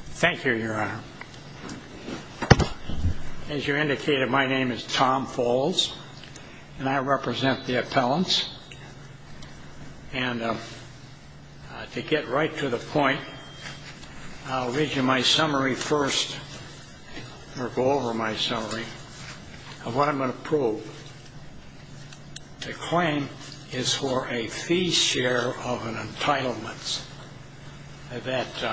Thank you, Your Honor. As you indicated, my name is Tom Falls, and I represent the appellants. And to get right to the point, I'll read you my summary first, or go over my summary, of what I'm going to prove. The claim is for a fee share of entitlements that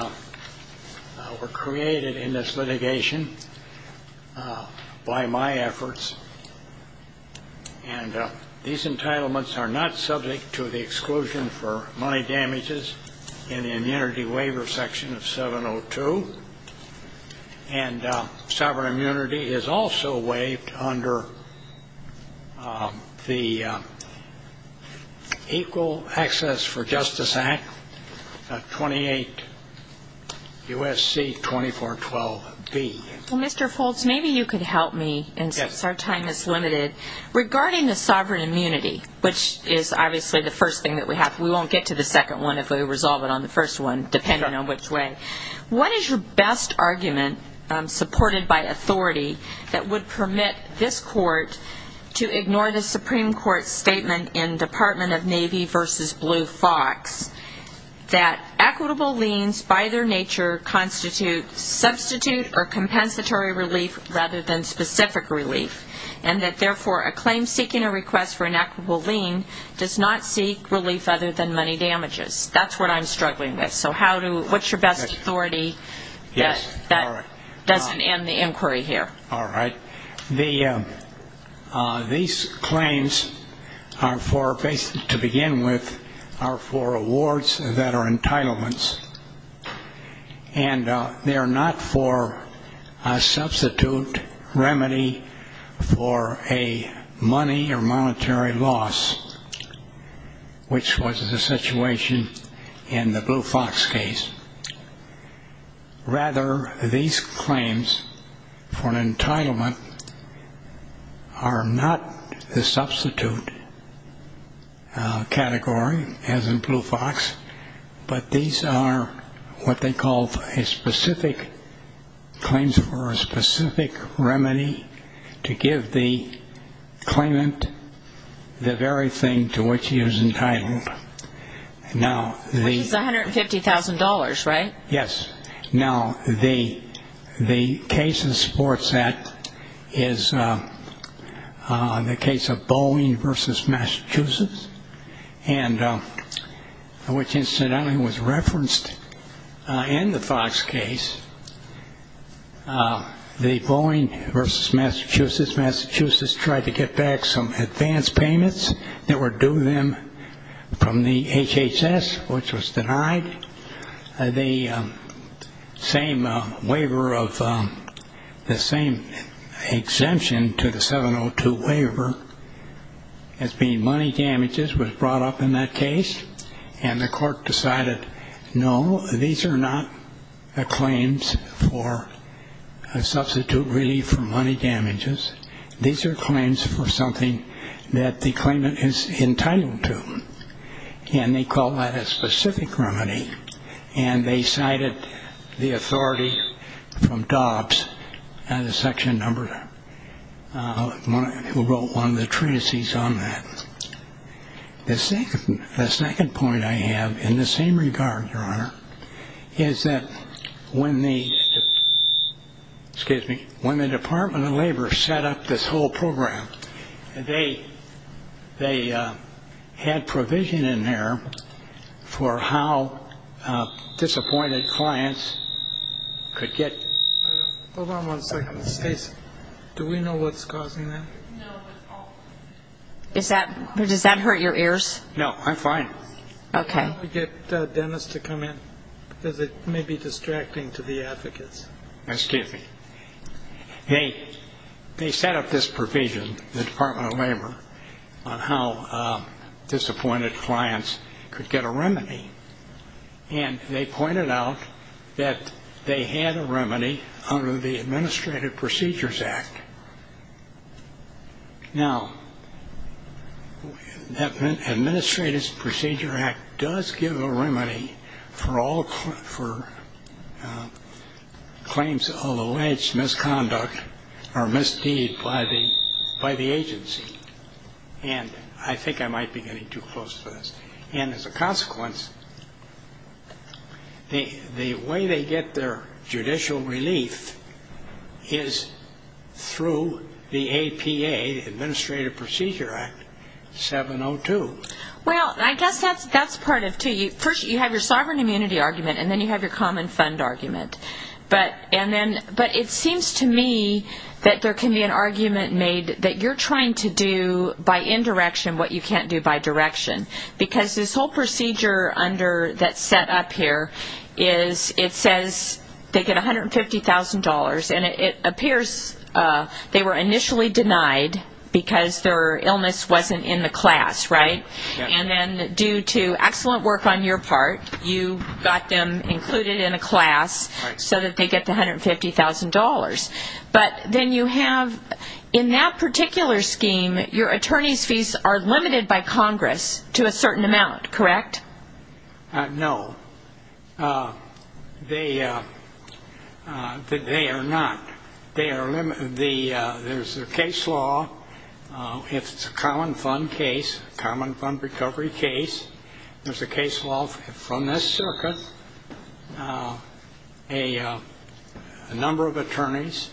were created in this litigation by my efforts. And these entitlements are not subject to the exclusion for money damages in the immunity waiver section of 702. And sovereign immunity is also waived under the Equal Access for Justice Act, 28 U.S.C. 2412b. Well, Mr. Falls, maybe you could help me, since our time is limited. Regarding the sovereign immunity, which is obviously the first thing that we have, we won't get to the second one if we resolve it on the first one, depending on which way. What is your best argument, supported by authority, that would permit this Court to ignore the Supreme Court's statement in Department of Navy v. Blue Fox that equitable liens, by their nature, constitute substitute or compensatory relief rather than specific relief, and that, therefore, a claim seeking a request for an equitable lien does not seek relief other than money damages? That's what I'm struggling with. So how do you, what's your best authority that doesn't end the inquiry here? All right. These claims are for, to begin with, are for awards that are entitlements. And they are not for a substitute remedy for a money or monetary loss, which was the situation in the Blue Fox case. Rather, these claims for an entitlement are not the substitute category, as in Blue Fox, but these are what they call a specific claims for a specific remedy to give the claimant the very thing to which he is entitled. Which is $150,000, right? Yes. Now, the case in support of that is the case of Boeing v. Massachusetts, and which incidentally was referenced in the Fox case, the Boeing v. Massachusetts. Massachusetts tried to get back some advance payments that were due them from the HHS, which was denied. The same waiver of, the same exemption to the 702 waiver as being money damages was brought up in that case, and the court decided, no, these are not claims for a substitute relief for money damages. These are claims for something that the claimant is entitled to. And they call that a specific remedy, and they cited the authority from Dobbs, the section number who wrote one of the treatises on that. The second point I have in the same regard, Your Honor, is that when the, excuse me, when the Department of Labor set up this whole program, they had provision in there for how disappointed clients could get. Hold on one second. Do we know what's causing that? No. Does that hurt your ears? No, I'm fine. Okay. Can we get Dennis to come in? Because it may be distracting to the advocates. Excuse me. They set up this provision, the Department of Labor, on how disappointed clients could get a remedy, and they pointed out that they had a remedy under the Administrative Procedures Act. Now, that Administrative Procedures Act does give a remedy for all claims of alleged misconduct or misdeed by the agency. And I think I might be getting too close to this. And as a consequence, the way they get their judicial relief is through the APA, the Administrative Procedures Act, 702. Well, I guess that's part of it, too. First, you have your sovereign immunity argument, and then you have your common fund argument. But it seems to me that there can be an argument made that you're trying to do by indirection what you can't do by direction. Because this whole procedure that's set up here, it says they get $150,000, and it appears they were initially denied because their illness wasn't in the class, right? And then due to excellent work on your part, you got them included in a class so that they get the $150,000. But then you have, in that particular scheme, your attorney's fees are limited by Congress to a certain amount, correct? No. They are not. There's a case law. It's a common fund case, a common fund recovery case. There's a case law from this circuit. There's a number of attorneys.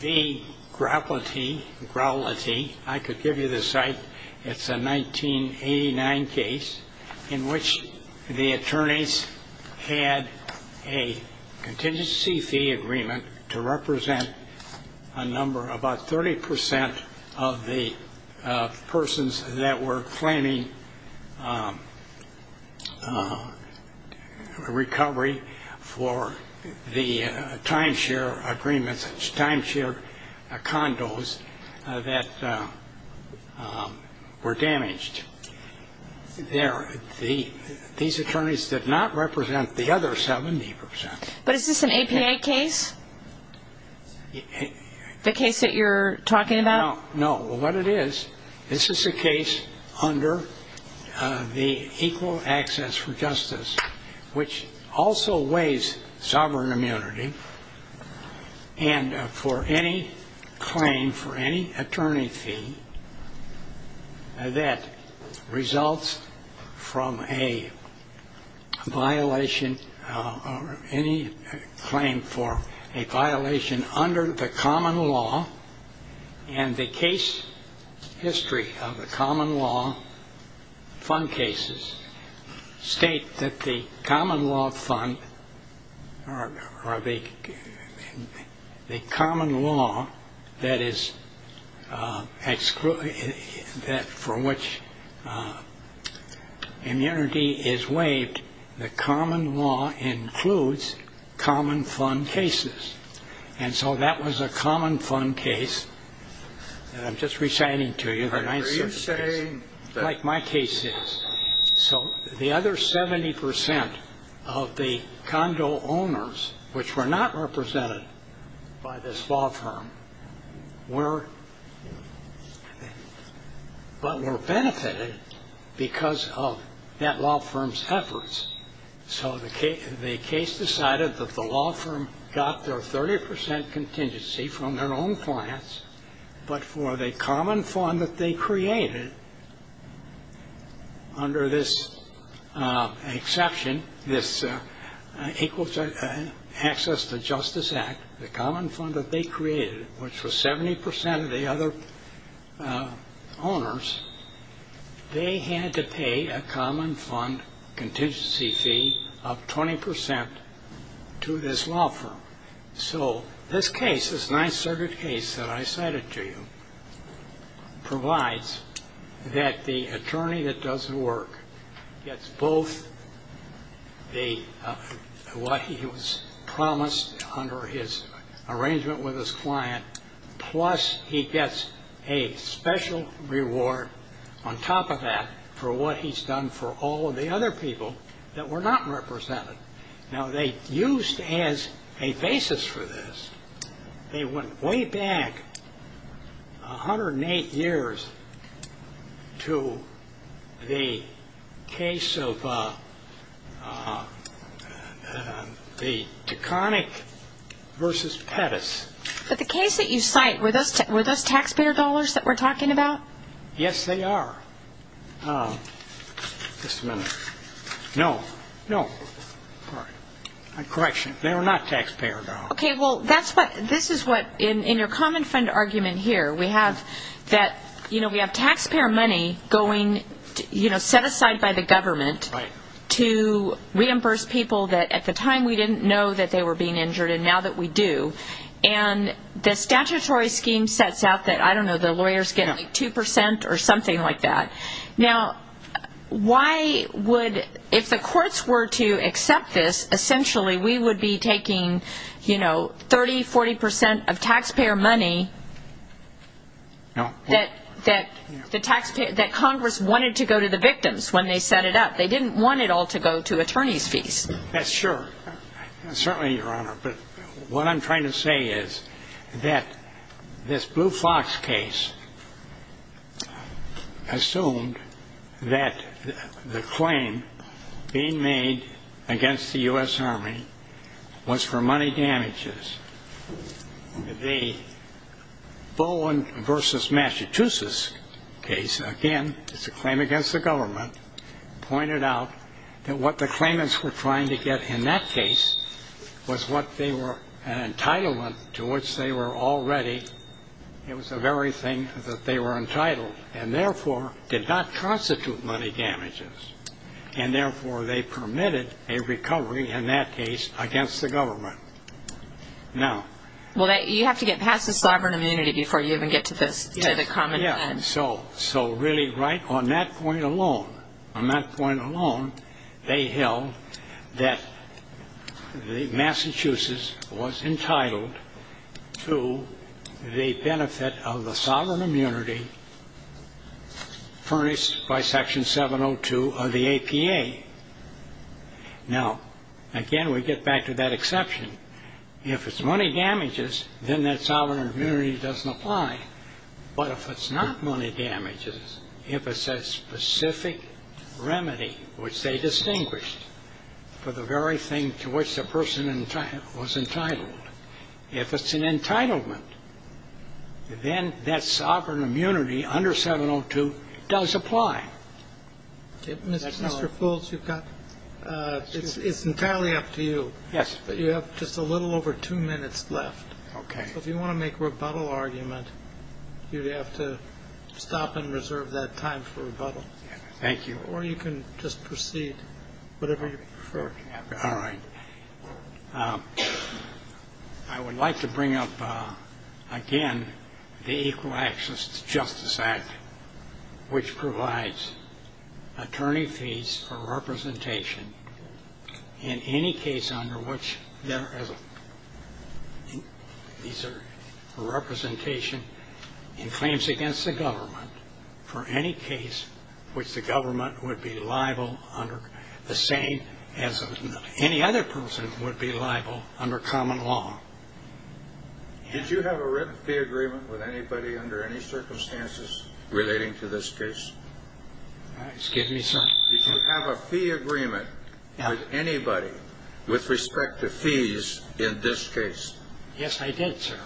The Grappletee, I could give you the site. It's a 1989 case in which the attorneys had a contingency fee agreement to represent a number, about 30 percent of the persons that were claiming recovery for the timeshare agreements, timeshare condos that were damaged. These attorneys did not represent the other 70 percent. But is this an APA case? The case that you're talking about? No. What it is, this is a case under the Equal Access for Justice, which also weighs sovereign immunity, and for any claim, for any attorney fee that results from a violation or any claim for a violation under the common law, and the case history of the common law fund cases state that the common law fund, or the common law for which immunity is waived, the common law includes common fund cases. And so that was a common fund case that I'm just reciting to you. Are you saying that? Like my case is. So the other 70 percent of the condo owners, which were not represented by this law firm, but were benefited because of that law firm's efforts. So the case decided that the law firm got their 30 percent contingency from their own clients, but for the common fund that they created under this exception, this Equal Access to Justice Act, the common fund that they created, which was 70 percent of the other owners, they had to pay a common fund contingency fee of 20 percent to this law firm. So this case, this Ninth Circuit case that I cited to you, provides that the attorney that does the work gets both what he was promised under his arrangement with his client, plus he gets a special reward on top of that for what he's done for all of the other people that were not represented. Now, they used as a basis for this, they went way back 108 years to the case of the Taconic v. Pettis. But the case that you cite, were those taxpayer dollars that we're talking about? Yes, they are. Just a minute. No. No. Sorry. My correction. They were not taxpayer dollars. Okay. Well, this is what, in your common fund argument here, we have that, you know, we have taxpayer money going, you know, set aside by the government to reimburse people that at the time we didn't know that they were being injured and now that we do. And the statutory scheme sets out that, I don't know, the lawyers get like 2 percent or something like that. Now, why would, if the courts were to accept this, essentially we would be taking, you know, 30, 40 percent of taxpayer money that Congress wanted to go to the victims when they set it up. They didn't want it all to go to attorney's fees. Yes, sure. Certainly, Your Honor. But what I'm trying to say is that this Blue Fox case assumed that the claim being made against the U.S. Army was for money damages. The Bowen v. Massachusetts case, again, it's a claim against the government, pointed out that what the claimants were trying to get in that case was what they were, an entitlement to which they were already, it was the very thing that they were entitled and therefore did not constitute money damages. And therefore they permitted a recovery in that case against the government. Well, you have to get past the sovereign immunity before you even get to the common fund. Yes, so really right on that point alone, on that point alone, they held that Massachusetts was entitled to the benefit of the sovereign immunity furnished by Section 702 of the APA. Now, again, we get back to that exception. If it's money damages, then that sovereign immunity doesn't apply. But if it's not money damages, if it's a specific remedy which they distinguished for the very thing to which the person was entitled, if it's an entitlement, then that sovereign immunity under 702 does apply. Mr. Foulds, you've got, it's entirely up to you. Yes. You have just a little over two minutes left. Okay. So if you want to make a rebuttal argument, you'd have to stop and reserve that time for rebuttal. Thank you. Or you can just proceed, whatever you prefer. All right. I would like to bring up again the Equal Access to Justice Act, which provides attorney fees for representation in any case under which there is a representation in claims against the government for any case which the government would be liable under the same as any other person would be liable under common law. Did you have a written fee agreement with anybody under any circumstances relating to this case? Excuse me, sir? Did you have a fee agreement with anybody with respect to fees in this case? Yes, I did, sir.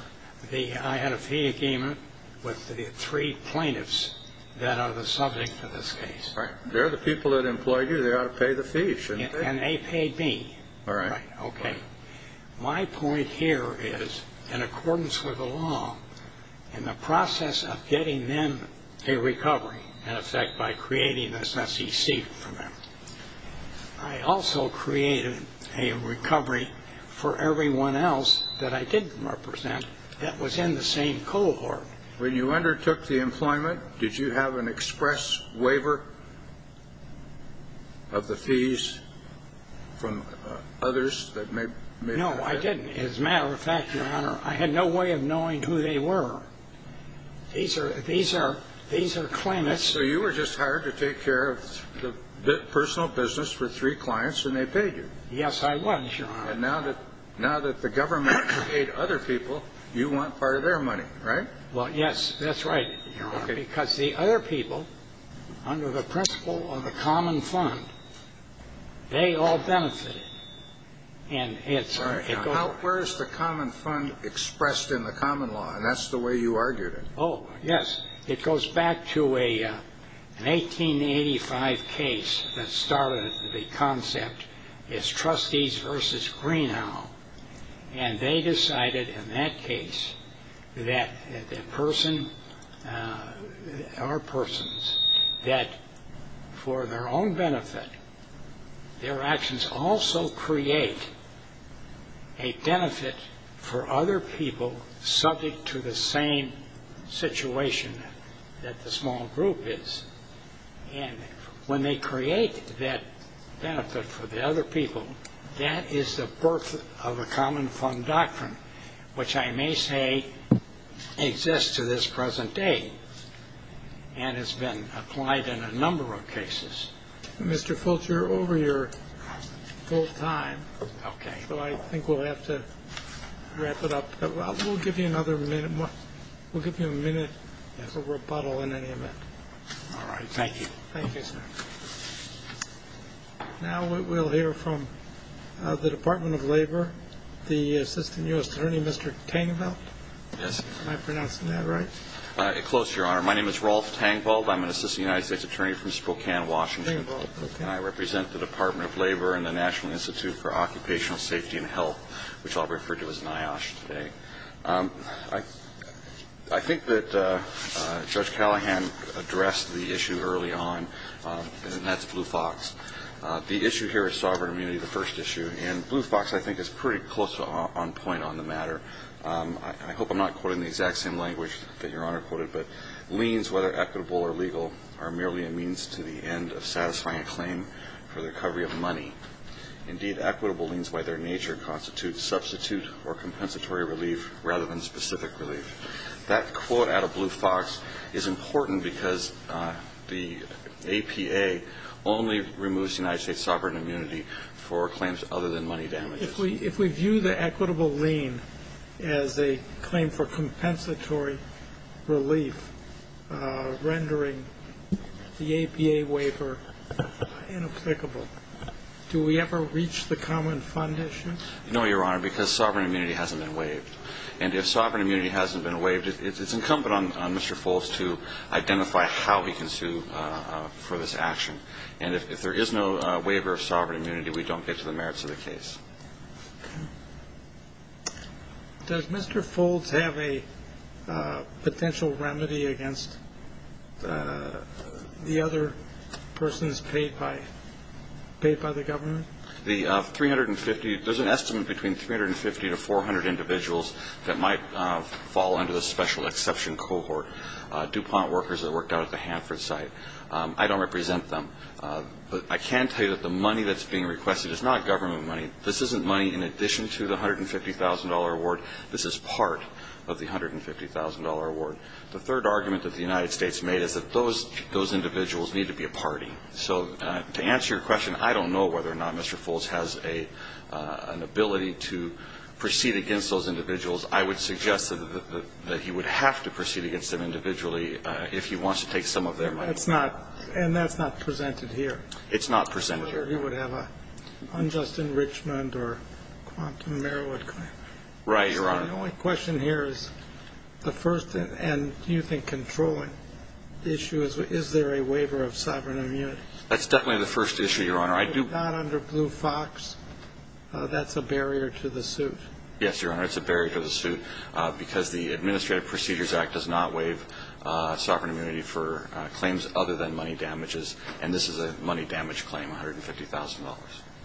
I had a fee agreement with the three plaintiffs that are the subject of this case. They're the people that employed you. They ought to pay the fee, shouldn't they? And they paid me. All right. Okay. My point here is, in accordance with the law, in the process of getting them a recovery, in effect by creating this SEC for them, I also created a recovery for everyone else that I didn't represent that was in the same cohort. When you undertook the employment, did you have an express waiver of the fees from others that may have been? No, I didn't. As a matter of fact, Your Honor, I had no way of knowing who they were. These are claimants. So you were just hired to take care of the personal business for three clients, and they paid you? Yes, I was, Your Honor. And now that the government paid other people, you want part of their money, right? Well, yes. That's right, Your Honor. Because the other people, under the principle of a common fund, they all benefited. And it's going to go. Where is the common fund expressed in the common law? And that's the way you argued it. Oh, yes. It goes back to an 1885 case that started the concept as Trustees versus Greenhalgh. And they decided in that case that the person, our persons, that for their own benefit, their actions also create a benefit for other people subject to the same situation that the small group is. And when they create that benefit for the other people, that is the birth of a common fund doctrine, which I may say exists to this present day and has been applied in a number of cases. Mr. Fulcher, you're over your full time. Okay. So I think we'll have to wrap it up. We'll give you another minute. We'll give you a minute for rebuttal in any event. All right. Thank you. Thank you, sir. Now we'll hear from the Department of Labor, the Assistant U.S. Attorney, Mr. Tangveld. Yes. Am I pronouncing that right? Close, Your Honor. My name is Rolf Tangveld. I'm an Assistant United States Attorney from Spokane, Washington. And I represent the Department of Labor and the National Institute for Occupational Safety and Health, which I'll refer to as NIOSH today. I think that Judge Callahan addressed the issue early on, and that's Blue Fox. The issue here is sovereign immunity, the first issue. And Blue Fox, I think, is pretty close on point on the matter. I hope I'm not quoting the exact same language that Your Honor quoted, but liens, whether equitable or legal, are merely a means to the end of satisfying a claim for the recovery of money. Indeed, equitable liens by their nature constitute substitute or compensatory relief rather than specific relief. That quote out of Blue Fox is important because the APA only removes United States sovereign immunity for claims other than money damages. If we view the equitable lien as a claim for compensatory relief, rendering the APA waiver inapplicable, do we ever reach the common fund issue? No, Your Honor, because sovereign immunity hasn't been waived. And if sovereign immunity hasn't been waived, it's incumbent on Mr. Foltz to identify how he can sue for this action. And if there is no waiver of sovereign immunity, we don't get to the merits of the case. Does Mr. Foltz have a potential remedy against the other persons paid by the government? There's an estimate between 350 to 400 individuals that might fall under the special exception cohort, DuPont workers that worked out at the Hanford site. I don't represent them. But I can tell you that the money that's being requested is not government money. This isn't money in addition to the $150,000 award. This is part of the $150,000 award. The third argument that the United States made is that those individuals need to be a party. So to answer your question, I don't know whether or not Mr. Foltz has an ability to proceed against those individuals. I would suggest that he would have to proceed against them individually if he wants to take some of their money. And that's not presented here. It's not presented here. Or he would have an unjust enrichment or quantum merit claim. Right, Your Honor. The only question here is the first thing. And do you think controlling the issue is, is there a waiver of sovereign immunity? That's definitely the first issue, Your Honor. If not under Blue Fox, that's a barrier to the suit. Yes, Your Honor, it's a barrier to the suit because the Administrative Procedures Act does not waive sovereign immunity for claims other than money damages. And this is a money damage claim, $150,000.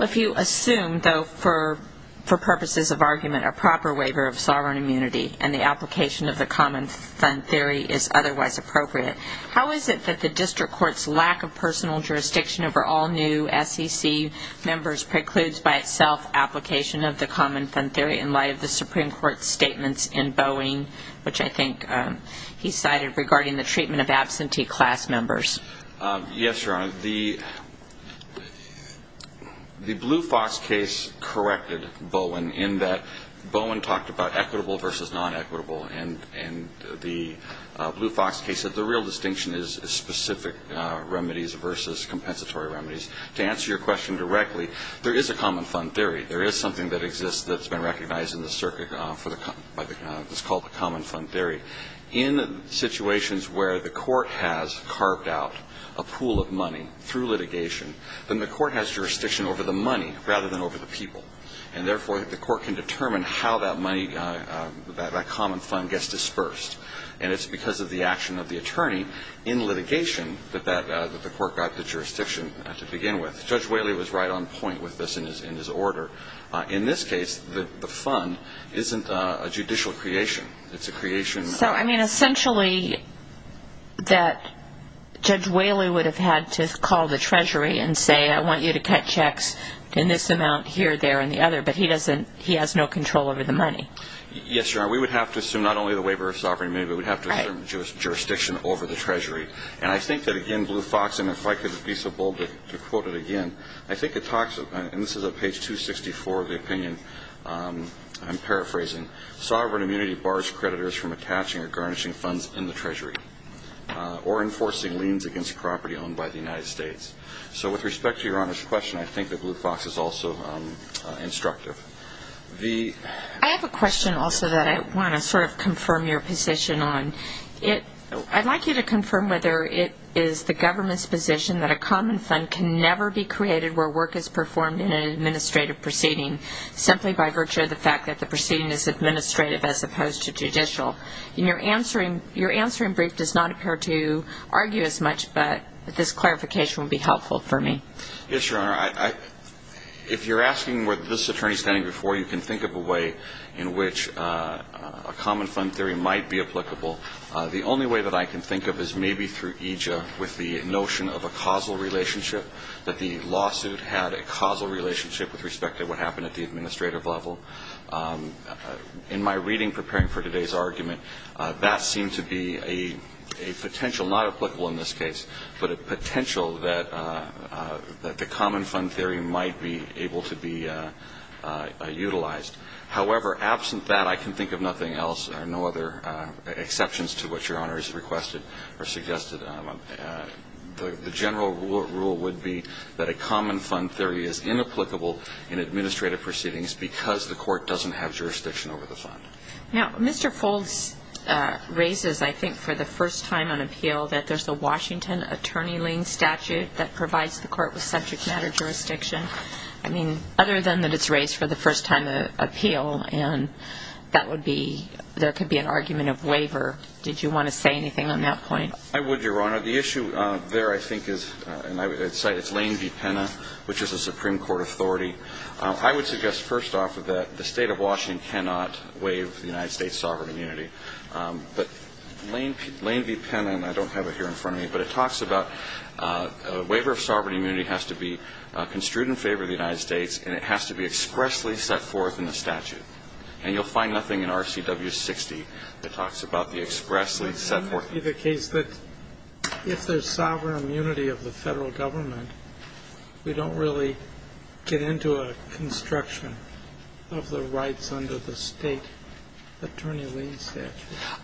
If you assume, though, for purposes of argument, a proper waiver of sovereign immunity and the application of the common fund theory is otherwise appropriate, how is it that the district court's lack of personal jurisdiction over all new SEC members precludes by itself application of the common fund theory in light of the Supreme Court's statements in Boeing, which I think he cited regarding the treatment of absentee class members? Yes, Your Honor. The Blue Fox case corrected Boeing in that Boeing talked about equitable versus non-equitable. And the Blue Fox case said the real distinction is specific remedies versus compensatory remedies. To answer your question directly, there is a common fund theory. There is something that exists that's been recognized in the circuit for the common fund theory. In situations where the court has carved out a pool of money through litigation, then the court has jurisdiction over the money rather than over the people. And, therefore, the court can determine how that money, that common fund, gets dispersed. And it's because of the action of the attorney in litigation that the court got the jurisdiction to begin with. Judge Whaley was right on point with this in his order. In this case, the fund isn't a judicial creation. It's a creation of- So, I mean, essentially that Judge Whaley would have had to call the Treasury and say, I want you to cut checks in this amount here, there, and the other. But he doesn't. He has no control over the money. Yes, Your Honor. We would have to assume not only the waiver of sovereignty, but we would have to assume jurisdiction over the Treasury. And I think that, again, Blue Fox, and if I could be so bold to quote it again, I think it talks, and this is at page 264 of the opinion I'm paraphrasing, sovereign immunity bars creditors from attaching or garnishing funds in the Treasury or enforcing liens against property owned by the United States. So with respect to Your Honor's question, I think that Blue Fox is also instructive. I have a question also that I want to sort of confirm your position on. I'd like you to confirm whether it is the government's position that a common fund can never be created where work is performed in an administrative proceeding, simply by virtue of the fact that the proceeding is administrative as opposed to judicial. Your answering brief does not appear to argue as much, but this clarification would be helpful for me. Yes, Your Honor. If you're asking where this attorney is standing before you, you can think of a way in which a common fund theory might be applicable. The only way that I can think of is maybe through EJIA with the notion of a causal relationship, that the lawsuit had a causal relationship with respect to what happened at the administrative level. In my reading preparing for today's argument, that seemed to be a potential, not applicable in this case, but a potential that the common fund theory might be able to be utilized. However, absent that, I can think of nothing else, or no other exceptions to what Your Honor has requested or suggested. The general rule would be that a common fund theory is inapplicable in administrative proceedings because the court doesn't have jurisdiction over the fund. Now, Mr. Foulds raises, I think, for the first time on appeal, that there's a Washington attorney-ling statute that provides the court with subject matter jurisdiction. I mean, other than that it's raised for the first time on appeal, and that would be, there could be an argument of waiver. Did you want to say anything on that point? I would, Your Honor. The issue there, I think, is, and I would cite, it's Lane v. Penna, which is a Supreme Court authority. I would suggest, first off, that the State of Washington cannot waive the United States' sovereign immunity. But Lane v. Penna, and I don't have it here in front of me, but it talks about a waiver of sovereign immunity has to be construed in favor of the United States, and it has to be expressly set forth in the statute. And you'll find nothing in RCW 60 that talks about the expressly set forth. It would be the case that if there's sovereign immunity of the Federal Government, we don't really get into a construction of the rights under the State attorney-ling statute.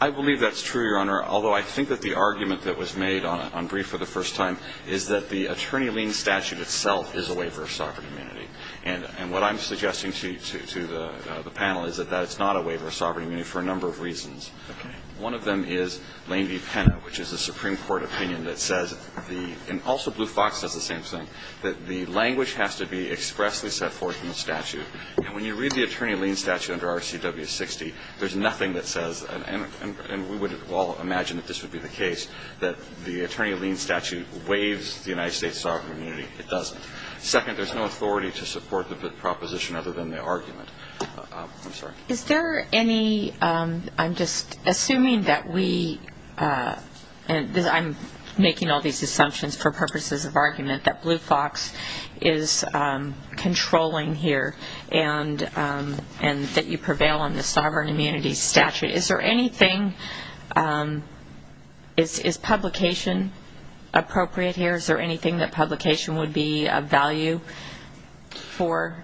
I believe that's true, Your Honor, although I think that the argument that was made on brief for the first time is that the attorney-ling statute itself is a waiver of sovereign immunity. And what I'm suggesting to the panel is that that's not a waiver of sovereign immunity for a number of reasons. Okay. One of them is Lane v. Penna, which is a Supreme Court opinion that says the – and also Blue Fox says the same thing, that the language has to be expressly set forth in the statute. And when you read the attorney-ling statute under RCW 60, there's nothing that says – and we would all imagine that this would be the case – that the attorney-ling statute waives the United States' sovereign immunity. It doesn't. Second, there's no authority to support the proposition other than the argument. I'm sorry. Is there any – I'm just assuming that we – I'm making all these assumptions for purposes of argument that Blue Fox is controlling here and that you prevail on the sovereign immunity statute. Is there anything – is publication appropriate here? Is there anything that publication would be of value for?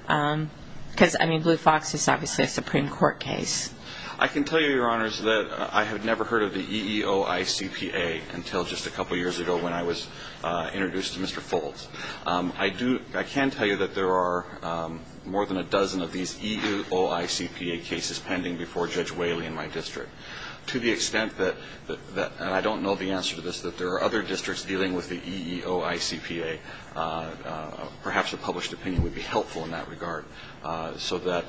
Because, I mean, Blue Fox is obviously a Supreme Court case. I can tell you, Your Honors, that I had never heard of the EEOICPA until just a couple years ago when I was introduced to Mr. Foltz. I do – I can tell you that there are more than a dozen of these EEOICPA cases pending before Judge Whaley in my district to the extent that – and I don't know the answer to this – that there are other districts dealing with the EEOICPA. Perhaps a published opinion would be helpful in that regard so that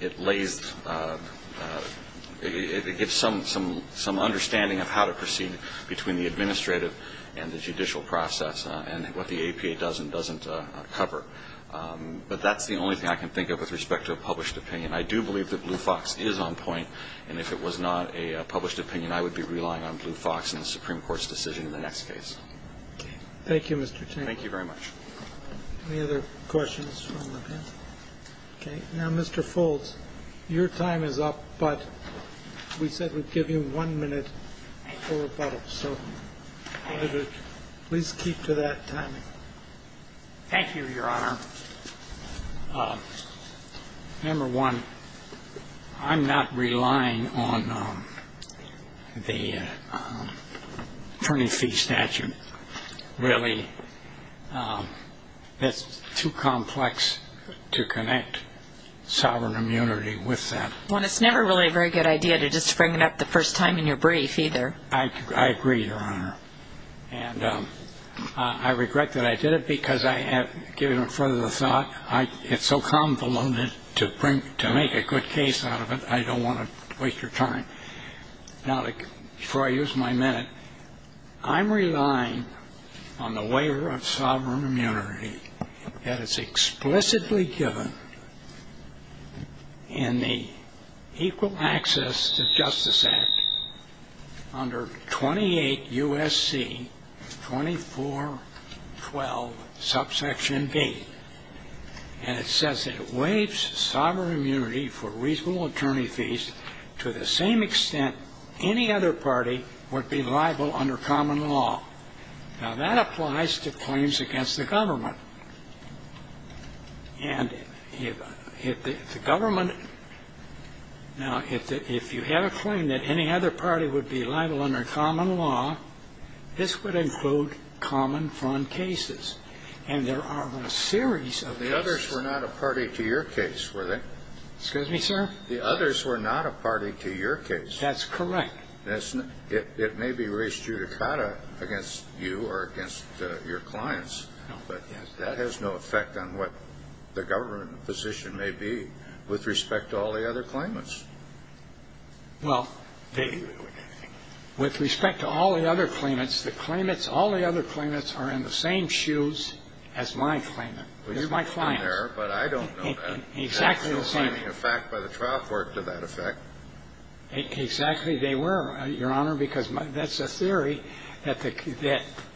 it lays – it gives some understanding of how to proceed between the administrative and the judicial process and what the APA does and doesn't cover. But that's the only thing I can think of with respect to a published opinion. I do believe that Blue Fox is on point. And if it was not a published opinion, I would be relying on Blue Fox and the Supreme Court's decision in the next case. Thank you, Mr. Tank. Thank you very much. Any other questions from the panel? Okay. Now, Mr. Foltz, your time is up, but we said we'd give you one minute for rebuttal. So please keep to that timing. Thank you, Your Honor. Number one, I'm not relying on the printing fee statute, really. That's too complex to connect sovereign immunity with that. Well, it's never really a very good idea to just bring it up the first time in your brief either. I agree, Your Honor. And I regret that I did it because I have given it further thought. It's so convoluted to make a good case out of it, I don't want to waste your time. Now, before I use my minute, I'm relying on the waiver of sovereign immunity that is explicitly given in the Equal Access to Justice Act under 28 U.S.C. 2412 subsection B. And it says it waives sovereign immunity for reasonable attorney fees to the same extent any other party would be liable under common law. Now, that applies to claims against the government. And if the government – now, if you have a claim that any other party would be liable under common law, this would include common-front cases. And there are a series of cases. The others were not a party to your case, were they? Excuse me, sir? The others were not a party to your case. That's correct. It may be res judicata against you or against your clients. But that has no effect on what the government position may be with respect to all the other claimants. Well, with respect to all the other claimants, the claimants – all the other claimants are in the same shoes as my claimant. They're my clients. But I don't know that. Exactly the same. There's no binding effect by the trial court to that effect. Exactly they were, Your Honor, because that's a theory that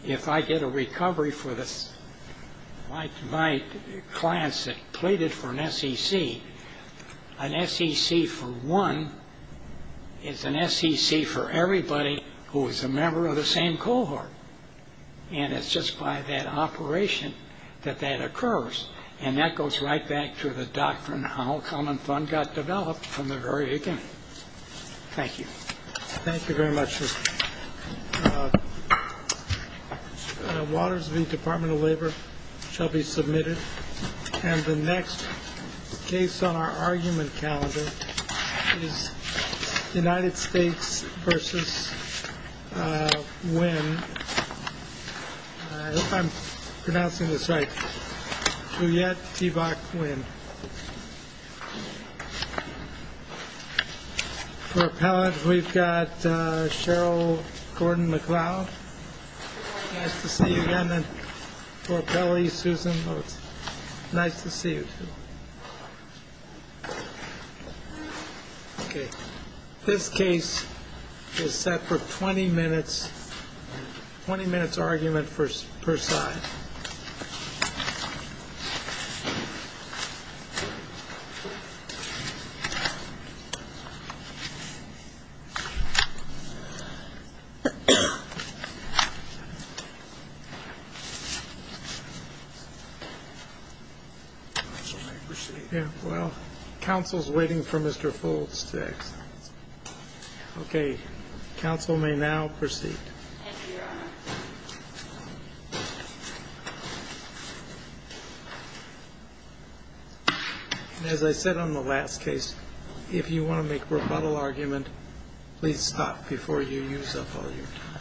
if I get a recovery for my clients that pleaded for an SEC, an SEC for one is an SEC for everybody who is a member of the same cohort. And it's just by that operation that that occurs. And that goes right back to the doctrine how Common Fund got developed from the very beginning. Thank you very much, Justice. Waters v. Department of Labor shall be submitted. And the next case on our argument calendar is United States v. Nguyen. I hope I'm pronouncing this right. Juliette T. Bach Nguyen. For appellant, we've got Cheryl Gordon-McLeod. Nice to see you again. And for appellee, Susan Lutz. Nice to see you, too. Okay. This case is set for 20 minutes, 20 minutes argument per side. Counsel may proceed. Counsel is waiting for Mr. Foulds to execute. Okay. Counsel may now proceed. Thank you, Your Honor. And as I said on the last case, if you want to make rebuttal argument, please stop before you use up all your time.